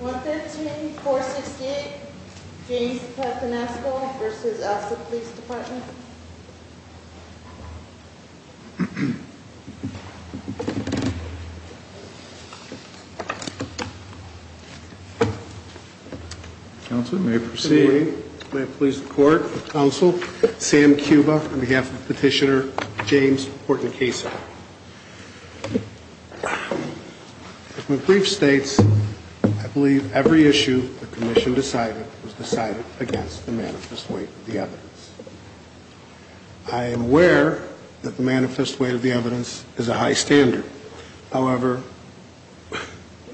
115-468 James Dept. in Eskola v. Elsta Police Dept. May I please the court, counsel, Sam Cuba on behalf of Petitioner James Hortincaso. My brief states I believe every issue the Commission decided was decided against the manifest weight of the evidence. I am aware that the manifest weight of the evidence is a high standard. However,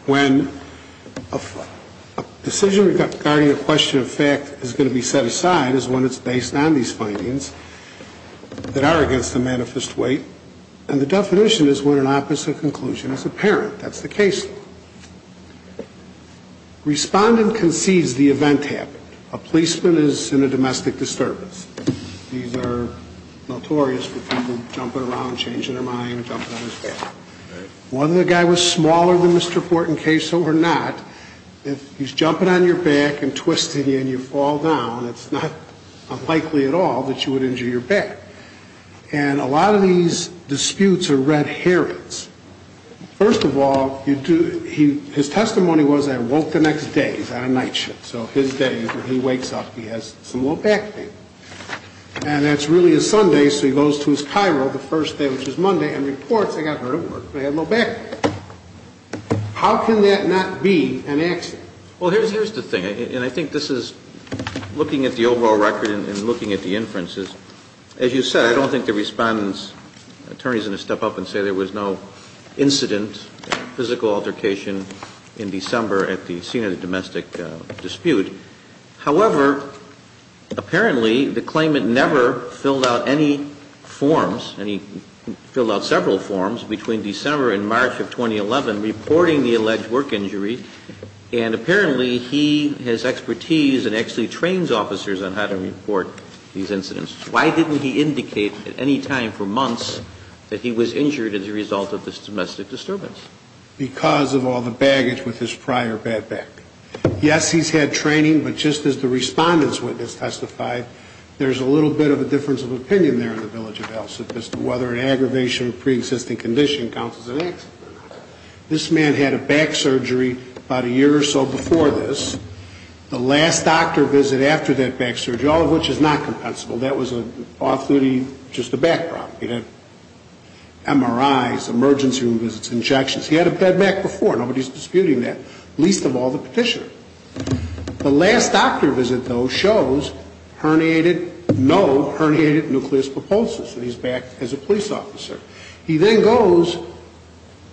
when a decision regarding a question of fact is going to be made, and the definition is when an opposite conclusion is apparent, that's the case law. Respondent concedes the event happened. A policeman is in a domestic disturbance. These are notorious for people jumping around, changing their mind, jumping on his back. Whether the guy was smaller than Mr. Hortincaso or not, if he's jumping on your back and twisting you and you fall down, it's not unlikely at all that you would injure your back. And a lot of these disputes are red herrings. First of all, his testimony was I woke the next day. He's on a night shift, so his day is when he wakes up and he has some low back pain. And that's really a Sunday, so he goes to his chiro the first day, which is Monday, and reports I got hurt at work because I had low back pain. How can that not be an accident? Well, here's the thing, and I think this is looking at the overall record and looking at the record, as you said, I don't think the Respondent's attorneys are going to step up and say there was no incident, physical altercation in December at the scene of the domestic dispute. However, apparently the claimant never filled out any forms, and he filled out several forms between December and March of 2011 reporting the alleged work injury, and apparently he has expertise and actually trains officers on how to report these issues. So I don't think he's going to indicate at any time for months that he was injured as a result of this domestic disturbance. Because of all the baggage with his prior bad back. Yes, he's had training, but just as the Respondent's witness testified, there's a little bit of a difference of opinion there in the village of Elson as to whether an aggravation of preexisting condition counts as an accident or not. This man had a back surgery about a year or so before this. The last doctor visit after that back surgery, all of which is not compensable, that was just a back problem. He had MRIs, emergency room visits, injections. He had a bad back before. Nobody's disputing that, least of all the petitioner. The last doctor visit, though, shows herniated, no herniated nucleus puposus, and he's back as a police officer. He then goes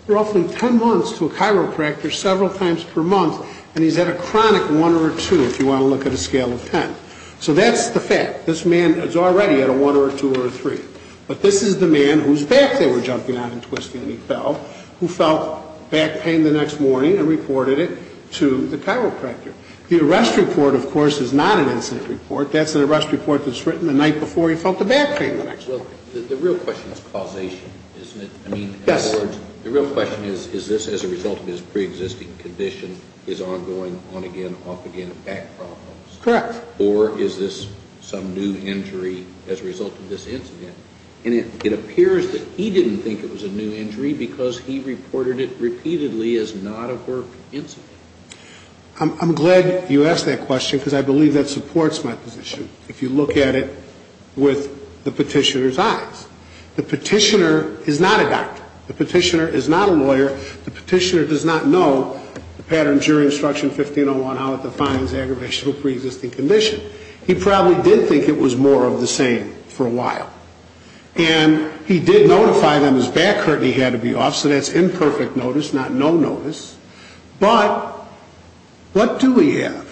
roughly ten months to a chiropractor several times per month, and he's had a chronic one or a two if you want to look at a scale of ten. So that's the fact. This man is already at a one or a two or a three. But this is the man whose back they were jumping on and twisting and he fell, who felt back pain the next morning and reported it to the chiropractor. The arrest report, of course, is not an incident report. That's an arrest report that's written the night before he felt the back pain the next morning. Well, the real question is causation, isn't it? I mean, in other words, the real question is, is this as a result of his preexisting condition, his ongoing on-again, off-again back problems? Correct. Or is this some new injury as a result of this incident? And it appears that he didn't think it was a new injury because he reported it repeatedly as not a work incident. I'm glad you asked that question because I believe that supports my position. If you look at it with the petitioner's eyes. The petitioner is not a doctor. The petitioner is not a lawyer. The petitioner does not know the pattern of jury instruction 1501, how it defines aggravation of a preexisting condition. He probably did think it was more of the same for a while. And he did notify them his back hurt and he had to be off, so that's imperfect notice, not no notice. But what do we have?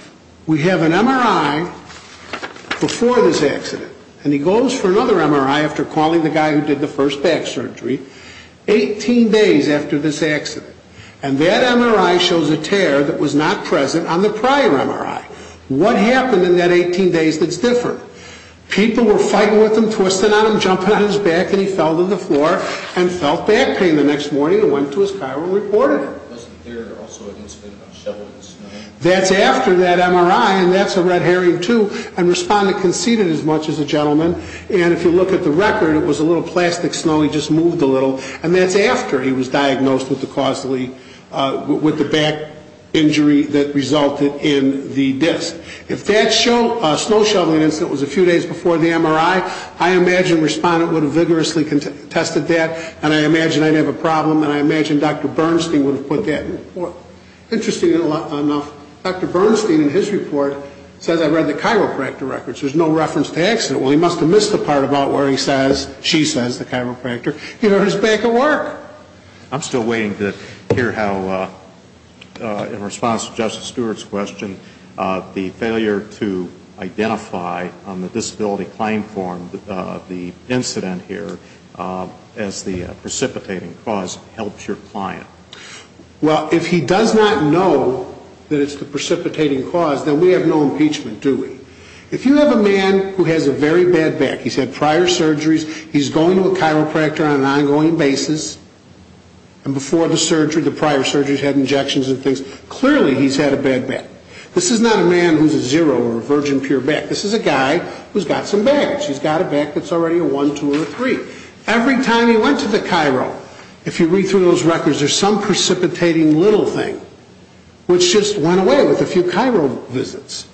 We have an MRI before this accident. And he goes for another MRI after calling the guy who did the first back surgery, 18 days after this accident. And that MRI shows a tear that was not present on the prior MRI. What happened in that 18 days that's different? People were fighting with him, twisting on him, jumping on his back, and he fell to the floor and felt back pain the next morning and went to his car and reported it. That's after that MRI, and that's a red herring too, and respondent conceded as much as the gentleman, and if you look at the record, it was a little plastic snow, he just moved a little, and that's after he was diagnosed with the back injury that resulted in the disc. If that snow shoveling incident was a few days before the MRI, I imagine I'd have a problem, and I imagine Dr. Bernstein would have put that in the report. Interestingly enough, Dr. Bernstein in his report says I read the chiropractor record, so there's no reference to the accident. Well, he must have missed the part where he says, she says, the chiropractor, he hurt his back at work. I'm still waiting to hear how, in response to Justice Stewart's question, the failure to know that it's the precipitating cause helps your client. Well, if he does not know that it's the precipitating cause, then we have no impeachment, do we? If you have a man who has a very bad back, he's had prior surgeries, he's going to a chiropractor on an ongoing basis, and before the surgery, the prior surgery, he's had injections and things, clearly he's had a bad back. This is not a man who's a zero or a If you read through those records, there's some precipitating little thing, which just went away with a few chiro visits.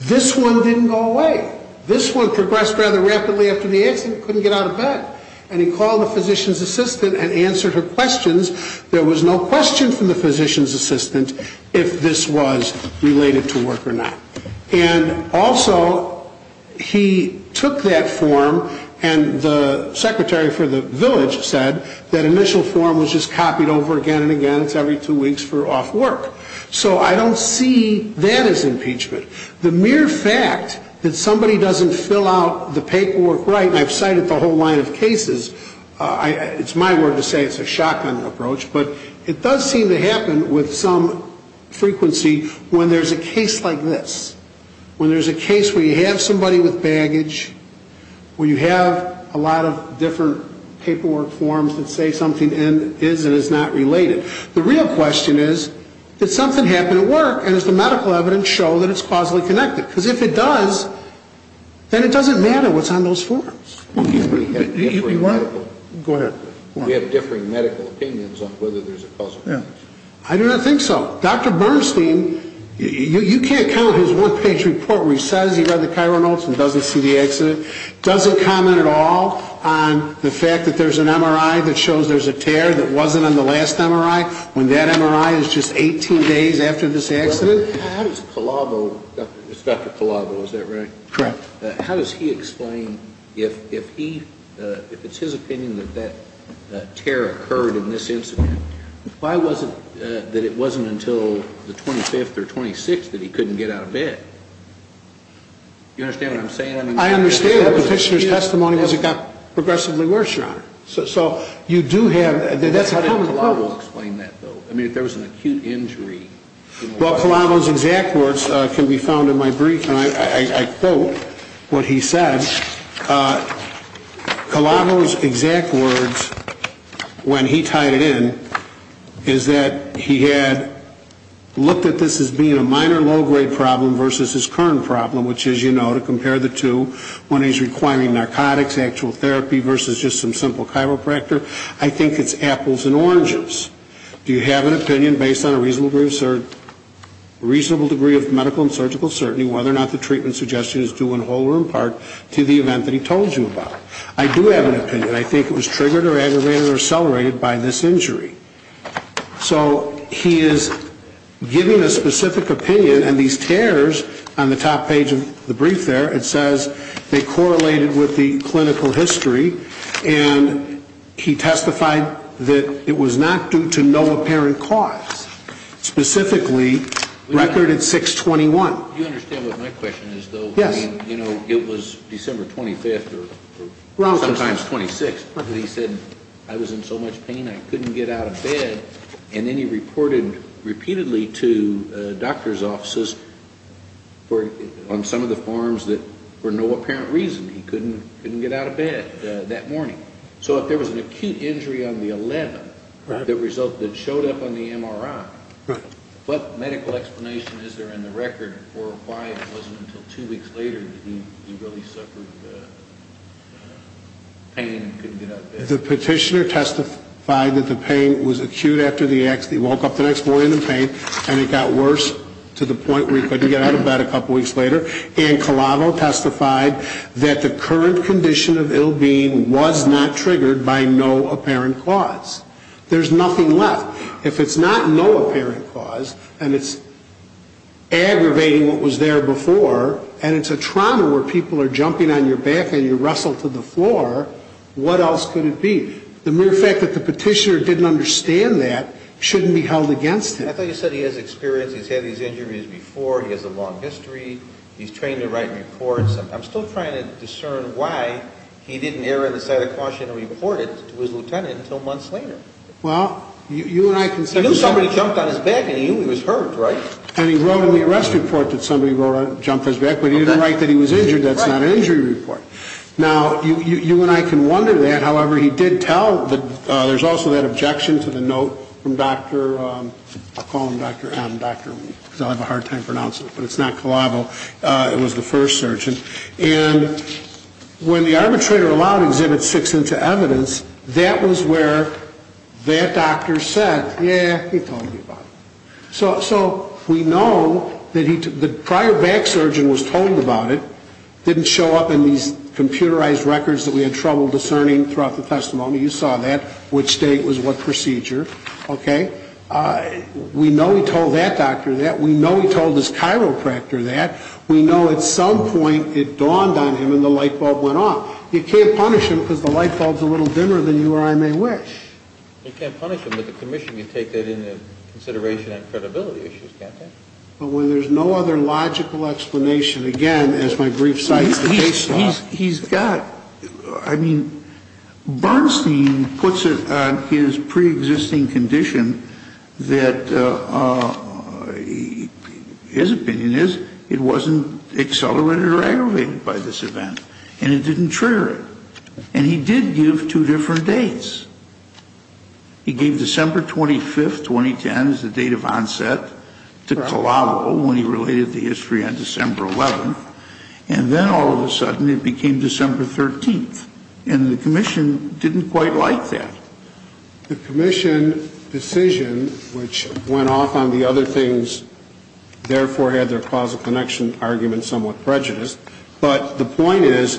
This one didn't go away. This one progressed rather rapidly after the accident, couldn't get out of bed. And he called the physician's assistant and answered her questions. There was no question from the physician's assistant if this was related to work or not. And also, he took that form, and the secretary for the village said that initial form was just copied over again and again. It's every two weeks for off work. So I don't see that as impeachment. The mere fact that somebody doesn't fill out the paperwork right, and I've cited the whole line of cases, it's my word to say it's a shotgun approach, but it does seem to happen with some frequency when there's a case like this, when there's a case where you have somebody with baggage, where you have a lot of different paperwork forms that say something is and is not related. The real question is, did something happen at work, and does the medical evidence show that it's causally connected? Because if it does, then it doesn't matter what's on those forms. Go ahead. We have differing medical opinions on whether there's a causal link. I do not think so. Dr. Bernstein, you can't count his one page report where he says he read the chiral notes and doesn't see the accident. Doesn't comment at all on the fact that there's an MRI that shows there's a tear that wasn't on the last MRI when that MRI is just 18 days after this accident? How does Calavo, it's Dr. Calavo, is that right? Correct. How does he explain, if it's his opinion that that tear occurred in this incident, why was it that it wasn't until the 25th or 26th that he couldn't get out of bed? You understand what I'm saying? I understand. The petitioner's testimony was it got progressively worse, Your Honor. So you do have, that's a common problem. How did Calavo explain that, though? I mean, if there was an acute injury? Well, Calavo's exact words can be found in my brief, and I quote what he said. Calavo's exact words when he tied it in is that he had looked at this as being a minor low-grade problem versus his current problem, which is, you know, a chiropractor. I think it's apples and oranges. Do you have an opinion based on a reasonable degree of medical and surgical certainty whether or not the treatment suggestion is due in whole or in part to the event that he told you about? I do have an opinion. I think it was triggered or aggravated or accelerated by this injury. So he is giving a specific opinion, and these tears on the top page of the record, he testified that it was not due to no apparent cause. Specifically, record at 6-21. You understand what my question is, though? Yes. I mean, you know, it was December 25th or sometimes 26th. He said, I was in so much pain I couldn't get out of bed, and then he reported repeatedly to doctor's offices on some of the farms that for no apparent reason he couldn't get out of bed that morning. So if there was an acute injury on the 11th that showed up on the MRI, what medical explanation is there in the record for why it wasn't until two weeks later that he really suffered pain and couldn't get out of bed? The petitioner testified that the pain was acute after the accident. He woke up the next morning in pain, and it got worse to the point where he couldn't get out of bed a couple weeks later. And Calavo testified that the current condition of ill being was not triggered by no apparent cause. There's nothing left. If it's not no apparent cause, and it's aggravating what was there before, and it's a trauma where people are jumping on your back and you wrestle to the floor, what else could it be? The mere fact that the petitioner didn't understand that shouldn't be held against him. I thought you said he has experience, he's had these injuries before, he has a long history, he's trained to write reports. I'm still trying to discern why he didn't err on the side of caution and report it to his lieutenant until months later. He knew somebody jumped on his back and he knew he was hurt, right? And he wrote in the arrest report that somebody jumped on his back, but he didn't write that he was injured. That's not an injury report. Now, you and I can wonder that, however, he did tell that there's also that objection to the note from Dr., I'll call him Dr. M, because I'll have a hard time pronouncing it, but it's not Calavo, it was the first surgeon. And when the arbitrator allowed Exhibit 6 into evidence, that was where that doctor said, yeah, he told me about it. So we know that the prior back surgeon was told about it. Didn't show up in these computerized records that we had trouble discerning throughout the testimony. You saw that, which date was what procedure. We know he told that doctor that. We know he told his chiropractor that. We know at some point it dawned on him and the lightbulb went off. You can't punish him because the lightbulb's a little dimmer than you or I may wish. You can't punish him, but the commission can take that into consideration on credibility issues, can't they? But when there's no other logical explanation, again, as my brief site indicates to us. He's got, I mean, Bernstein puts it on his pre-existing condition that his opinion is it wasn't accelerated or aggravated by this event. And it didn't trigger it. And he did give two different dates. He gave December 25th, 2010 as the date of onset to Calavo when he related the history on December 11th. And then all of a sudden it became December 13th. And the commission didn't quite like that. The commission decision, which went off on the other things, therefore had their causal connection argument somewhat prejudiced. But the point is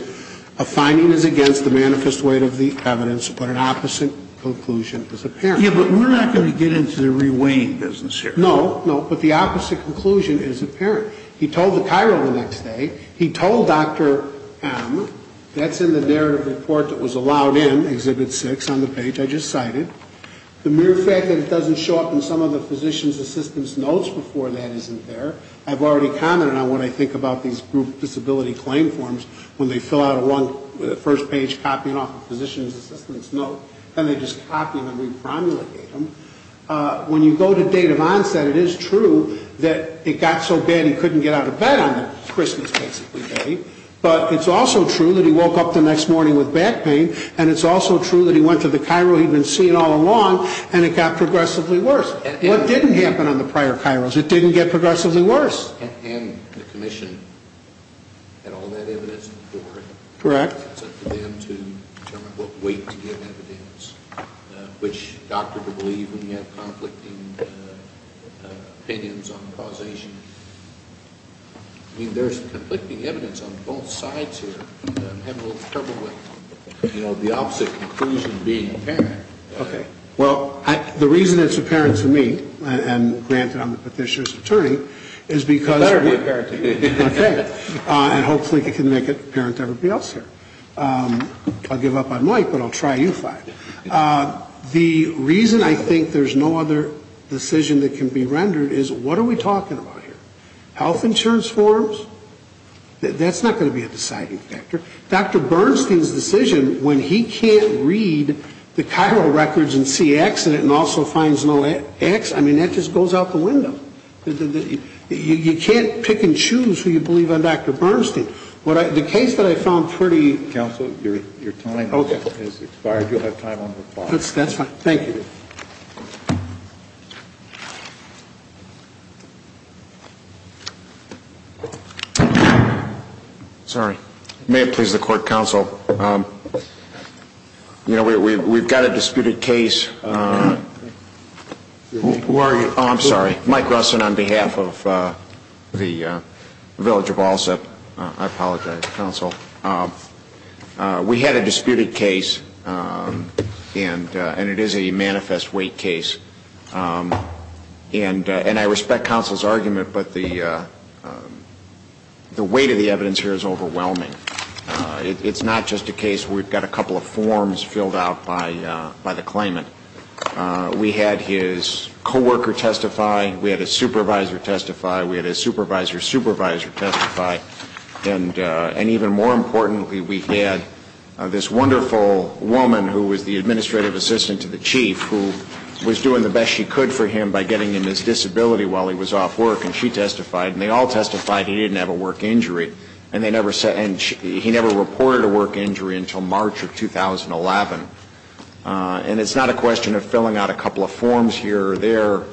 a finding is against the manifest weight of the evidence, but an opposite conclusion is apparent. Yeah, but we're not going to get into the re-weighing business here. No, no, but the opposite conclusion is apparent. He told the Cairo the next day. He told Dr. M. That's in the narrative report that was allowed in, Exhibit 6 on the page I just cited. The mere fact that it doesn't show up in some of the physician's assistance notes before that isn't there. I've already commented on what I think about these group disability claim forms when they fill out a one, the first page copying off the physician's assistance note, and they just copy them and re-promulgate them. When you go to date of onset, it is true that it got so bad he couldn't get out of bed on Christmas basically day. But it's also true that he woke up the next morning with back pain. And it's also true that he went to the Cairo he'd been seeing all along and it got progressively worse. What didn't happen on the prior Cairos? It didn't get progressively worse. And the commission had all that evidence before it. Correct. So for them to determine what weight to give evidence, which doctor to believe when you have conflicting opinions on causation. I mean, there's conflicting evidence on both sides here. I'm having a little trouble with, you know, the opposite conclusion being apparent. Okay. Well, the reason it's apparent to me, and granted I'm the petitioner's attorney, is because. And hopefully it can make it apparent to everybody else here. I'll give up on Mike, but I'll try you five. The reason I think there's no other decision that can be rendered is what are we talking about here? Health insurance forms? That's not going to be a deciding factor. Dr. Bernstein's decision when he can't read the Cairo records and see X in it and also finds no X. I mean, that just goes out the window. You can't pick and choose who you believe on Dr. Bernstein. The case that I found pretty. Counsel, your time has expired. You'll have time on the floor. That's fine. Thank you. Sorry. May it please the court, counsel. You know, we've got a disputed case. Who are you? Oh, I'm sorry. Mike Russin on behalf of the Village of Allsup. I apologize, counsel. We had a disputed case, and it is a manifest weight case. And I respect counsel's argument, but the weight of the evidence here is overwhelming. It's not just a case where we've got a couple of forms filled out by the claimant. We had his coworker testify. We had his supervisor testify. We had his supervisor's supervisor testify. And even more importantly, we had this wonderful woman who was the administrative assistant to the chief who was doing the best she could for him by getting him his disability while he was off work, and she testified. And they all testified he didn't have a work injury. And he never reported a work injury until March of 2011. And it's not a question of filling out a couple of forms here or there.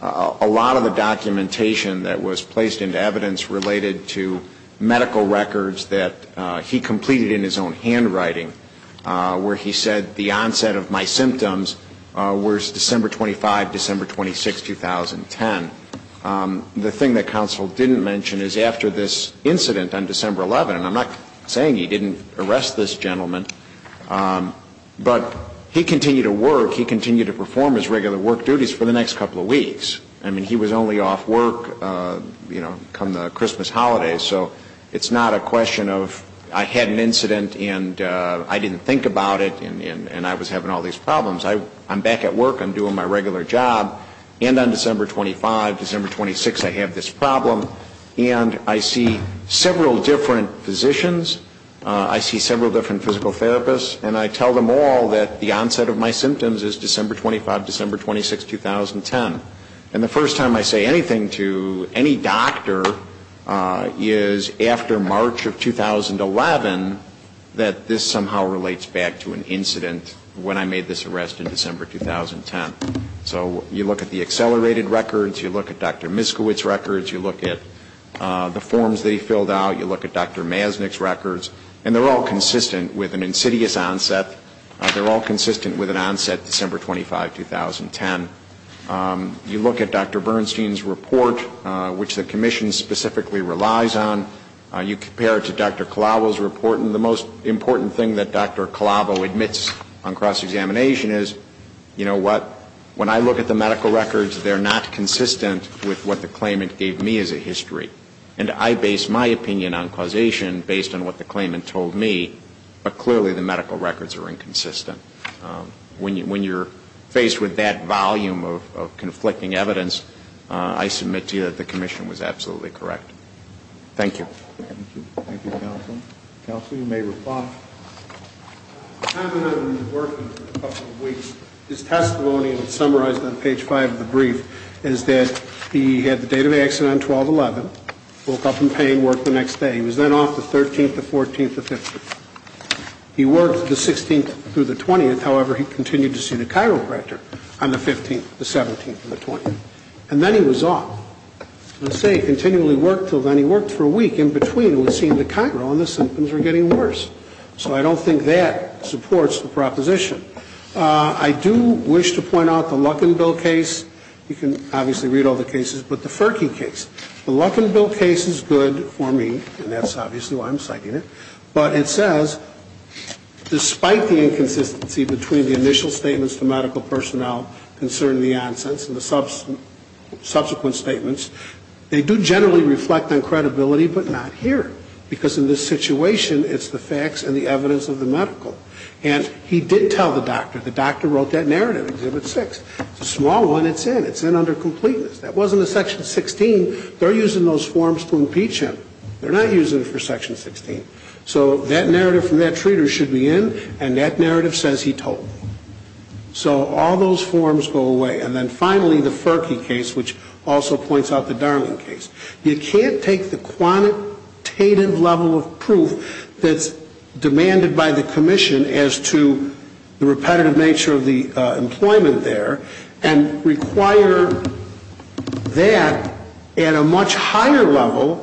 A lot of the documentation that was placed into evidence related to medical records that he completed in his own handwriting where he said the onset of my symptoms was December 25, December 26, 2010. The thing that counsel didn't mention is after this incident on December 11, and I'm not saying he didn't arrest this gentleman, but he continued to work. He continued to perform his regular work duties for the next couple of weeks. I mean, he was only off work, you know, come the Christmas holidays. So it's not a question of I had an incident and I didn't think about it and I was having all these problems. I'm back at work. I'm doing my regular job. And on December 25, December 26, I have this problem. And I see several different physicians. I see several different physical therapists. And I tell them all that the onset of my symptoms is December 25, December 26, 2010. And the first time I say anything to any doctor is after March of 2011 that this somehow relates back to an incident when I made this arrest in December 2010. So you look at the accelerated records. You look at Dr. Miskiewicz's records. You look at the forms that he filled out. You look at Dr. Maznik's records. And they're all consistent with an insidious onset. They're all consistent with an onset December 25, 2010. You look at Dr. Bernstein's report, which the Commission specifically relies on. You compare it to Dr. Calavo's report. And the most important thing that Dr. Calavo admits on cross-examination is, you know what, when I look at the medical records, they're not consistent with what the claimant gave me as a history. And I base my opinion on causation based on what the claimant told me. But clearly the medical records are inconsistent. When you're faced with that volume of conflicting evidence, I submit to you that the Commission was absolutely correct. Thank you. Thank you. Thank you, Counsel. Counsel, you may reply. The time that I've been working for a couple of weeks, his testimony was summarized on page 5 of the brief, is that he had the date of accident on 12-11, woke up in pain, worked the next day. He was then off the 13th, the 14th, the 15th. He worked the 16th through the 20th. However, he continued to see the chiropractor on the 15th, the 17th, and the 20th. And then he was off. I say he continually worked until then. He worked for a week. In between, it would seem the chiro and the symptoms were getting worse. So I don't think that supports the proposition. I do wish to point out the Luckinville case. You can obviously read all the cases, but the Ferkey case. The Luckinville case is good for me, and that's obviously why I'm citing it. But it says, despite the inconsistency between the initial statements to medical personnel concerning the onsense and the subsequent statements, they do generally reflect on credibility, but not here. Because in this situation, it's the facts and the evidence of the medical. And he did tell the doctor. The doctor wrote that narrative, Exhibit 6. It's a small one. It's in. It's in under completeness. That wasn't in Section 16. They're using those forms to impeach him. They're not using it for Section 16. So that narrative from that treater should be in, and that narrative says he told me. So all those forms go away. And then finally, the Ferkey case, which also points out the Darling case. You can't take the quantitative level of proof that's demanded by the commission as to the repetitive nature of the employment there and require that at a much higher level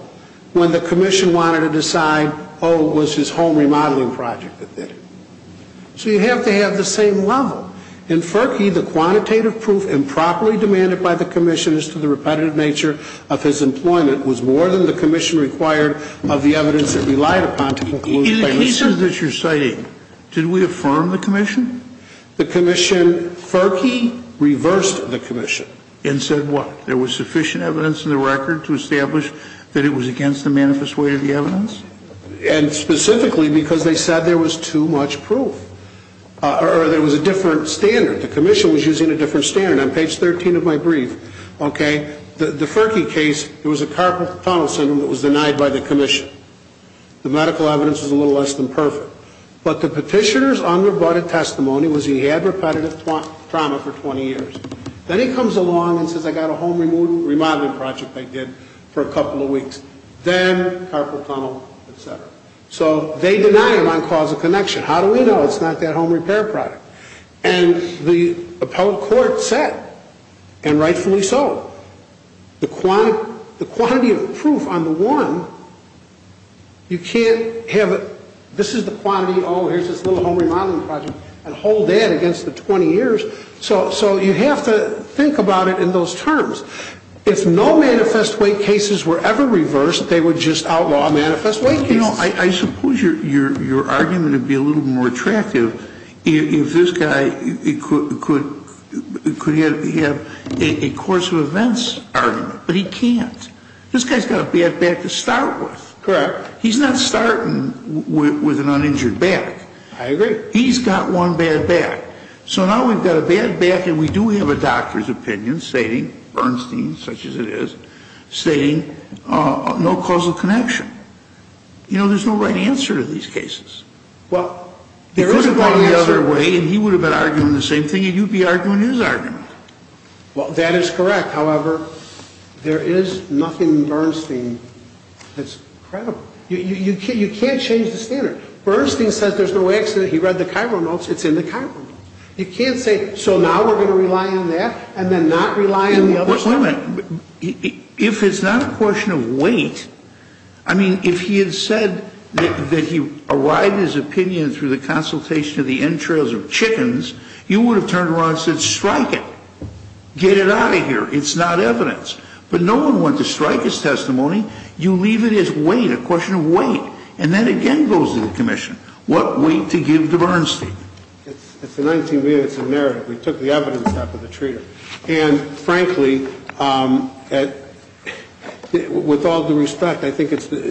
when the commission wanted to decide, oh, it was his home remodeling project that did it. So you have to have the same level. In Ferkey, the quantitative proof improperly demanded by the commission as to the repetitive nature of his employment was more than the commission required of the evidence it relied upon to conclude. In the cases that you're citing, did we affirm the commission? The commission, Ferkey reversed the commission. And said what? There was sufficient evidence in the record to establish that it was against the manifest way of the evidence? And specifically because they said there was too much proof. Or there was a different standard. The commission was using a different standard. On page 13 of my brief, okay, the Ferkey case, it was a carpal tunnel syndrome that was denied by the commission. The medical evidence was a little less than perfect. But the petitioner's unrebutted testimony was he had repetitive trauma for 20 years. Then he comes along and says I got a home remodeling project I did for a couple of weeks. Then carpal tunnel, et cetera. So they deny it on cause of connection. How do we know it's not that home repair product? And the appellate court said, and rightfully so, the quantity of proof on the one, you can't have it, this is the quantity, oh, here's this little home remodeling project, and hold that against the 20 years. So you have to think about it in those terms. If no manifest way cases were ever reversed, they would just outlaw manifest way cases. I suppose your argument would be a little more attractive if this guy could have a course of events argument. But he can't. This guy's got a bad back to start with. Correct. He's not starting with an uninjured back. I agree. He's got one bad back. So now we've got a bad back and we do have a doctor's opinion stating, Bernstein, such as it is, stating no cause of connection. You know, there's no right answer to these cases. Well, there is a right answer. He could have gone the other way and he would have been arguing the same thing and you'd be arguing his argument. Well, that is correct. However, there is nothing Bernstein that's credible. You can't change the standard. Bernstein says there's no accident. He read the Cairo notes. It's in the Cairo notes. You can't say, so now we're going to rely on that and then not rely on the other side. Your Honor, if it's not a question of weight, I mean, if he had said that he arrived at his opinion through the consultation of the entrails of chickens, you would have turned around and said, strike it. Get it out of here. It's not evidence. But no one went to strike his testimony. You leave it as weight, a question of weight. And that, again, goes to the commission. What weight to give to Bernstein? It's a 19 minutes narrative. We took the evidence out of the treater. And, frankly, with all due respect, I think it's, and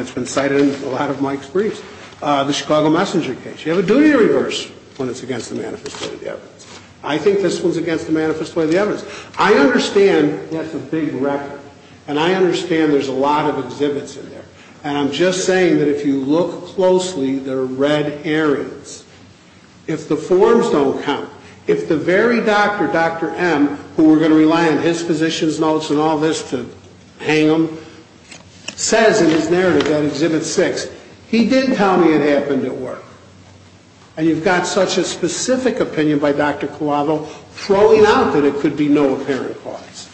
it's been cited in a lot of Mike's briefs, the Chicago Messenger case. You have a duty to reverse when it's against the manifest way of the evidence. I think this one's against the manifest way of the evidence. I understand that's a big record. And I understand there's a lot of exhibits in there. And I'm just saying that if you look closely, there are red areas. If the forms don't count. If the very doctor, Dr. M, who we're going to rely on his physician's notes and all this to hang him, says in his narrative on Exhibit 6, he did tell me it happened at work. And you've got such a specific opinion by Dr. Collado throwing out that it could be no apparent cause.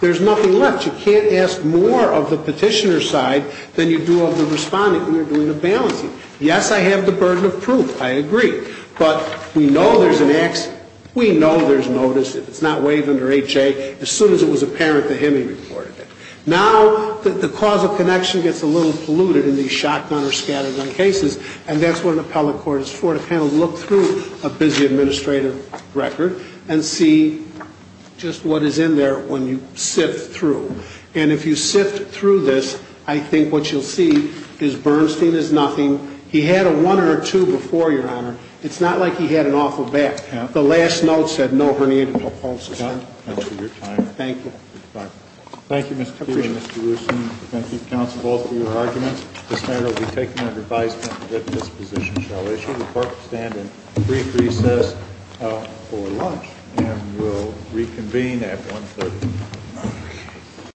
There's nothing left. You can't ask more of the petitioner's side than you do of the respondent when you're doing the balancing. Yes, I have the burden of proof. I agree. But we know there's an accident. We know there's notice. If it's not waived under HA, as soon as it was apparent to him, he reported it. Now, the cause of connection gets a little polluted in these shotgun or scattergun cases. And that's what an appellate court is for, to kind of look through a busy administrative record and see just what is in there when you sift through. And if you sift through this, I think what you'll see is Bernstein is nothing. He had a 1 or a 2 before, Your Honor. It's not like he had an awful back. The last note said, no herniated pulposis. Thank you. Thank you, Mr. Keeley and Mr. Rusin. Thank you, counsel, both for your arguments. This matter will be taken under advisement that this position shall issue. The court will stand in brief recess for lunch and will reconvene at 1.30.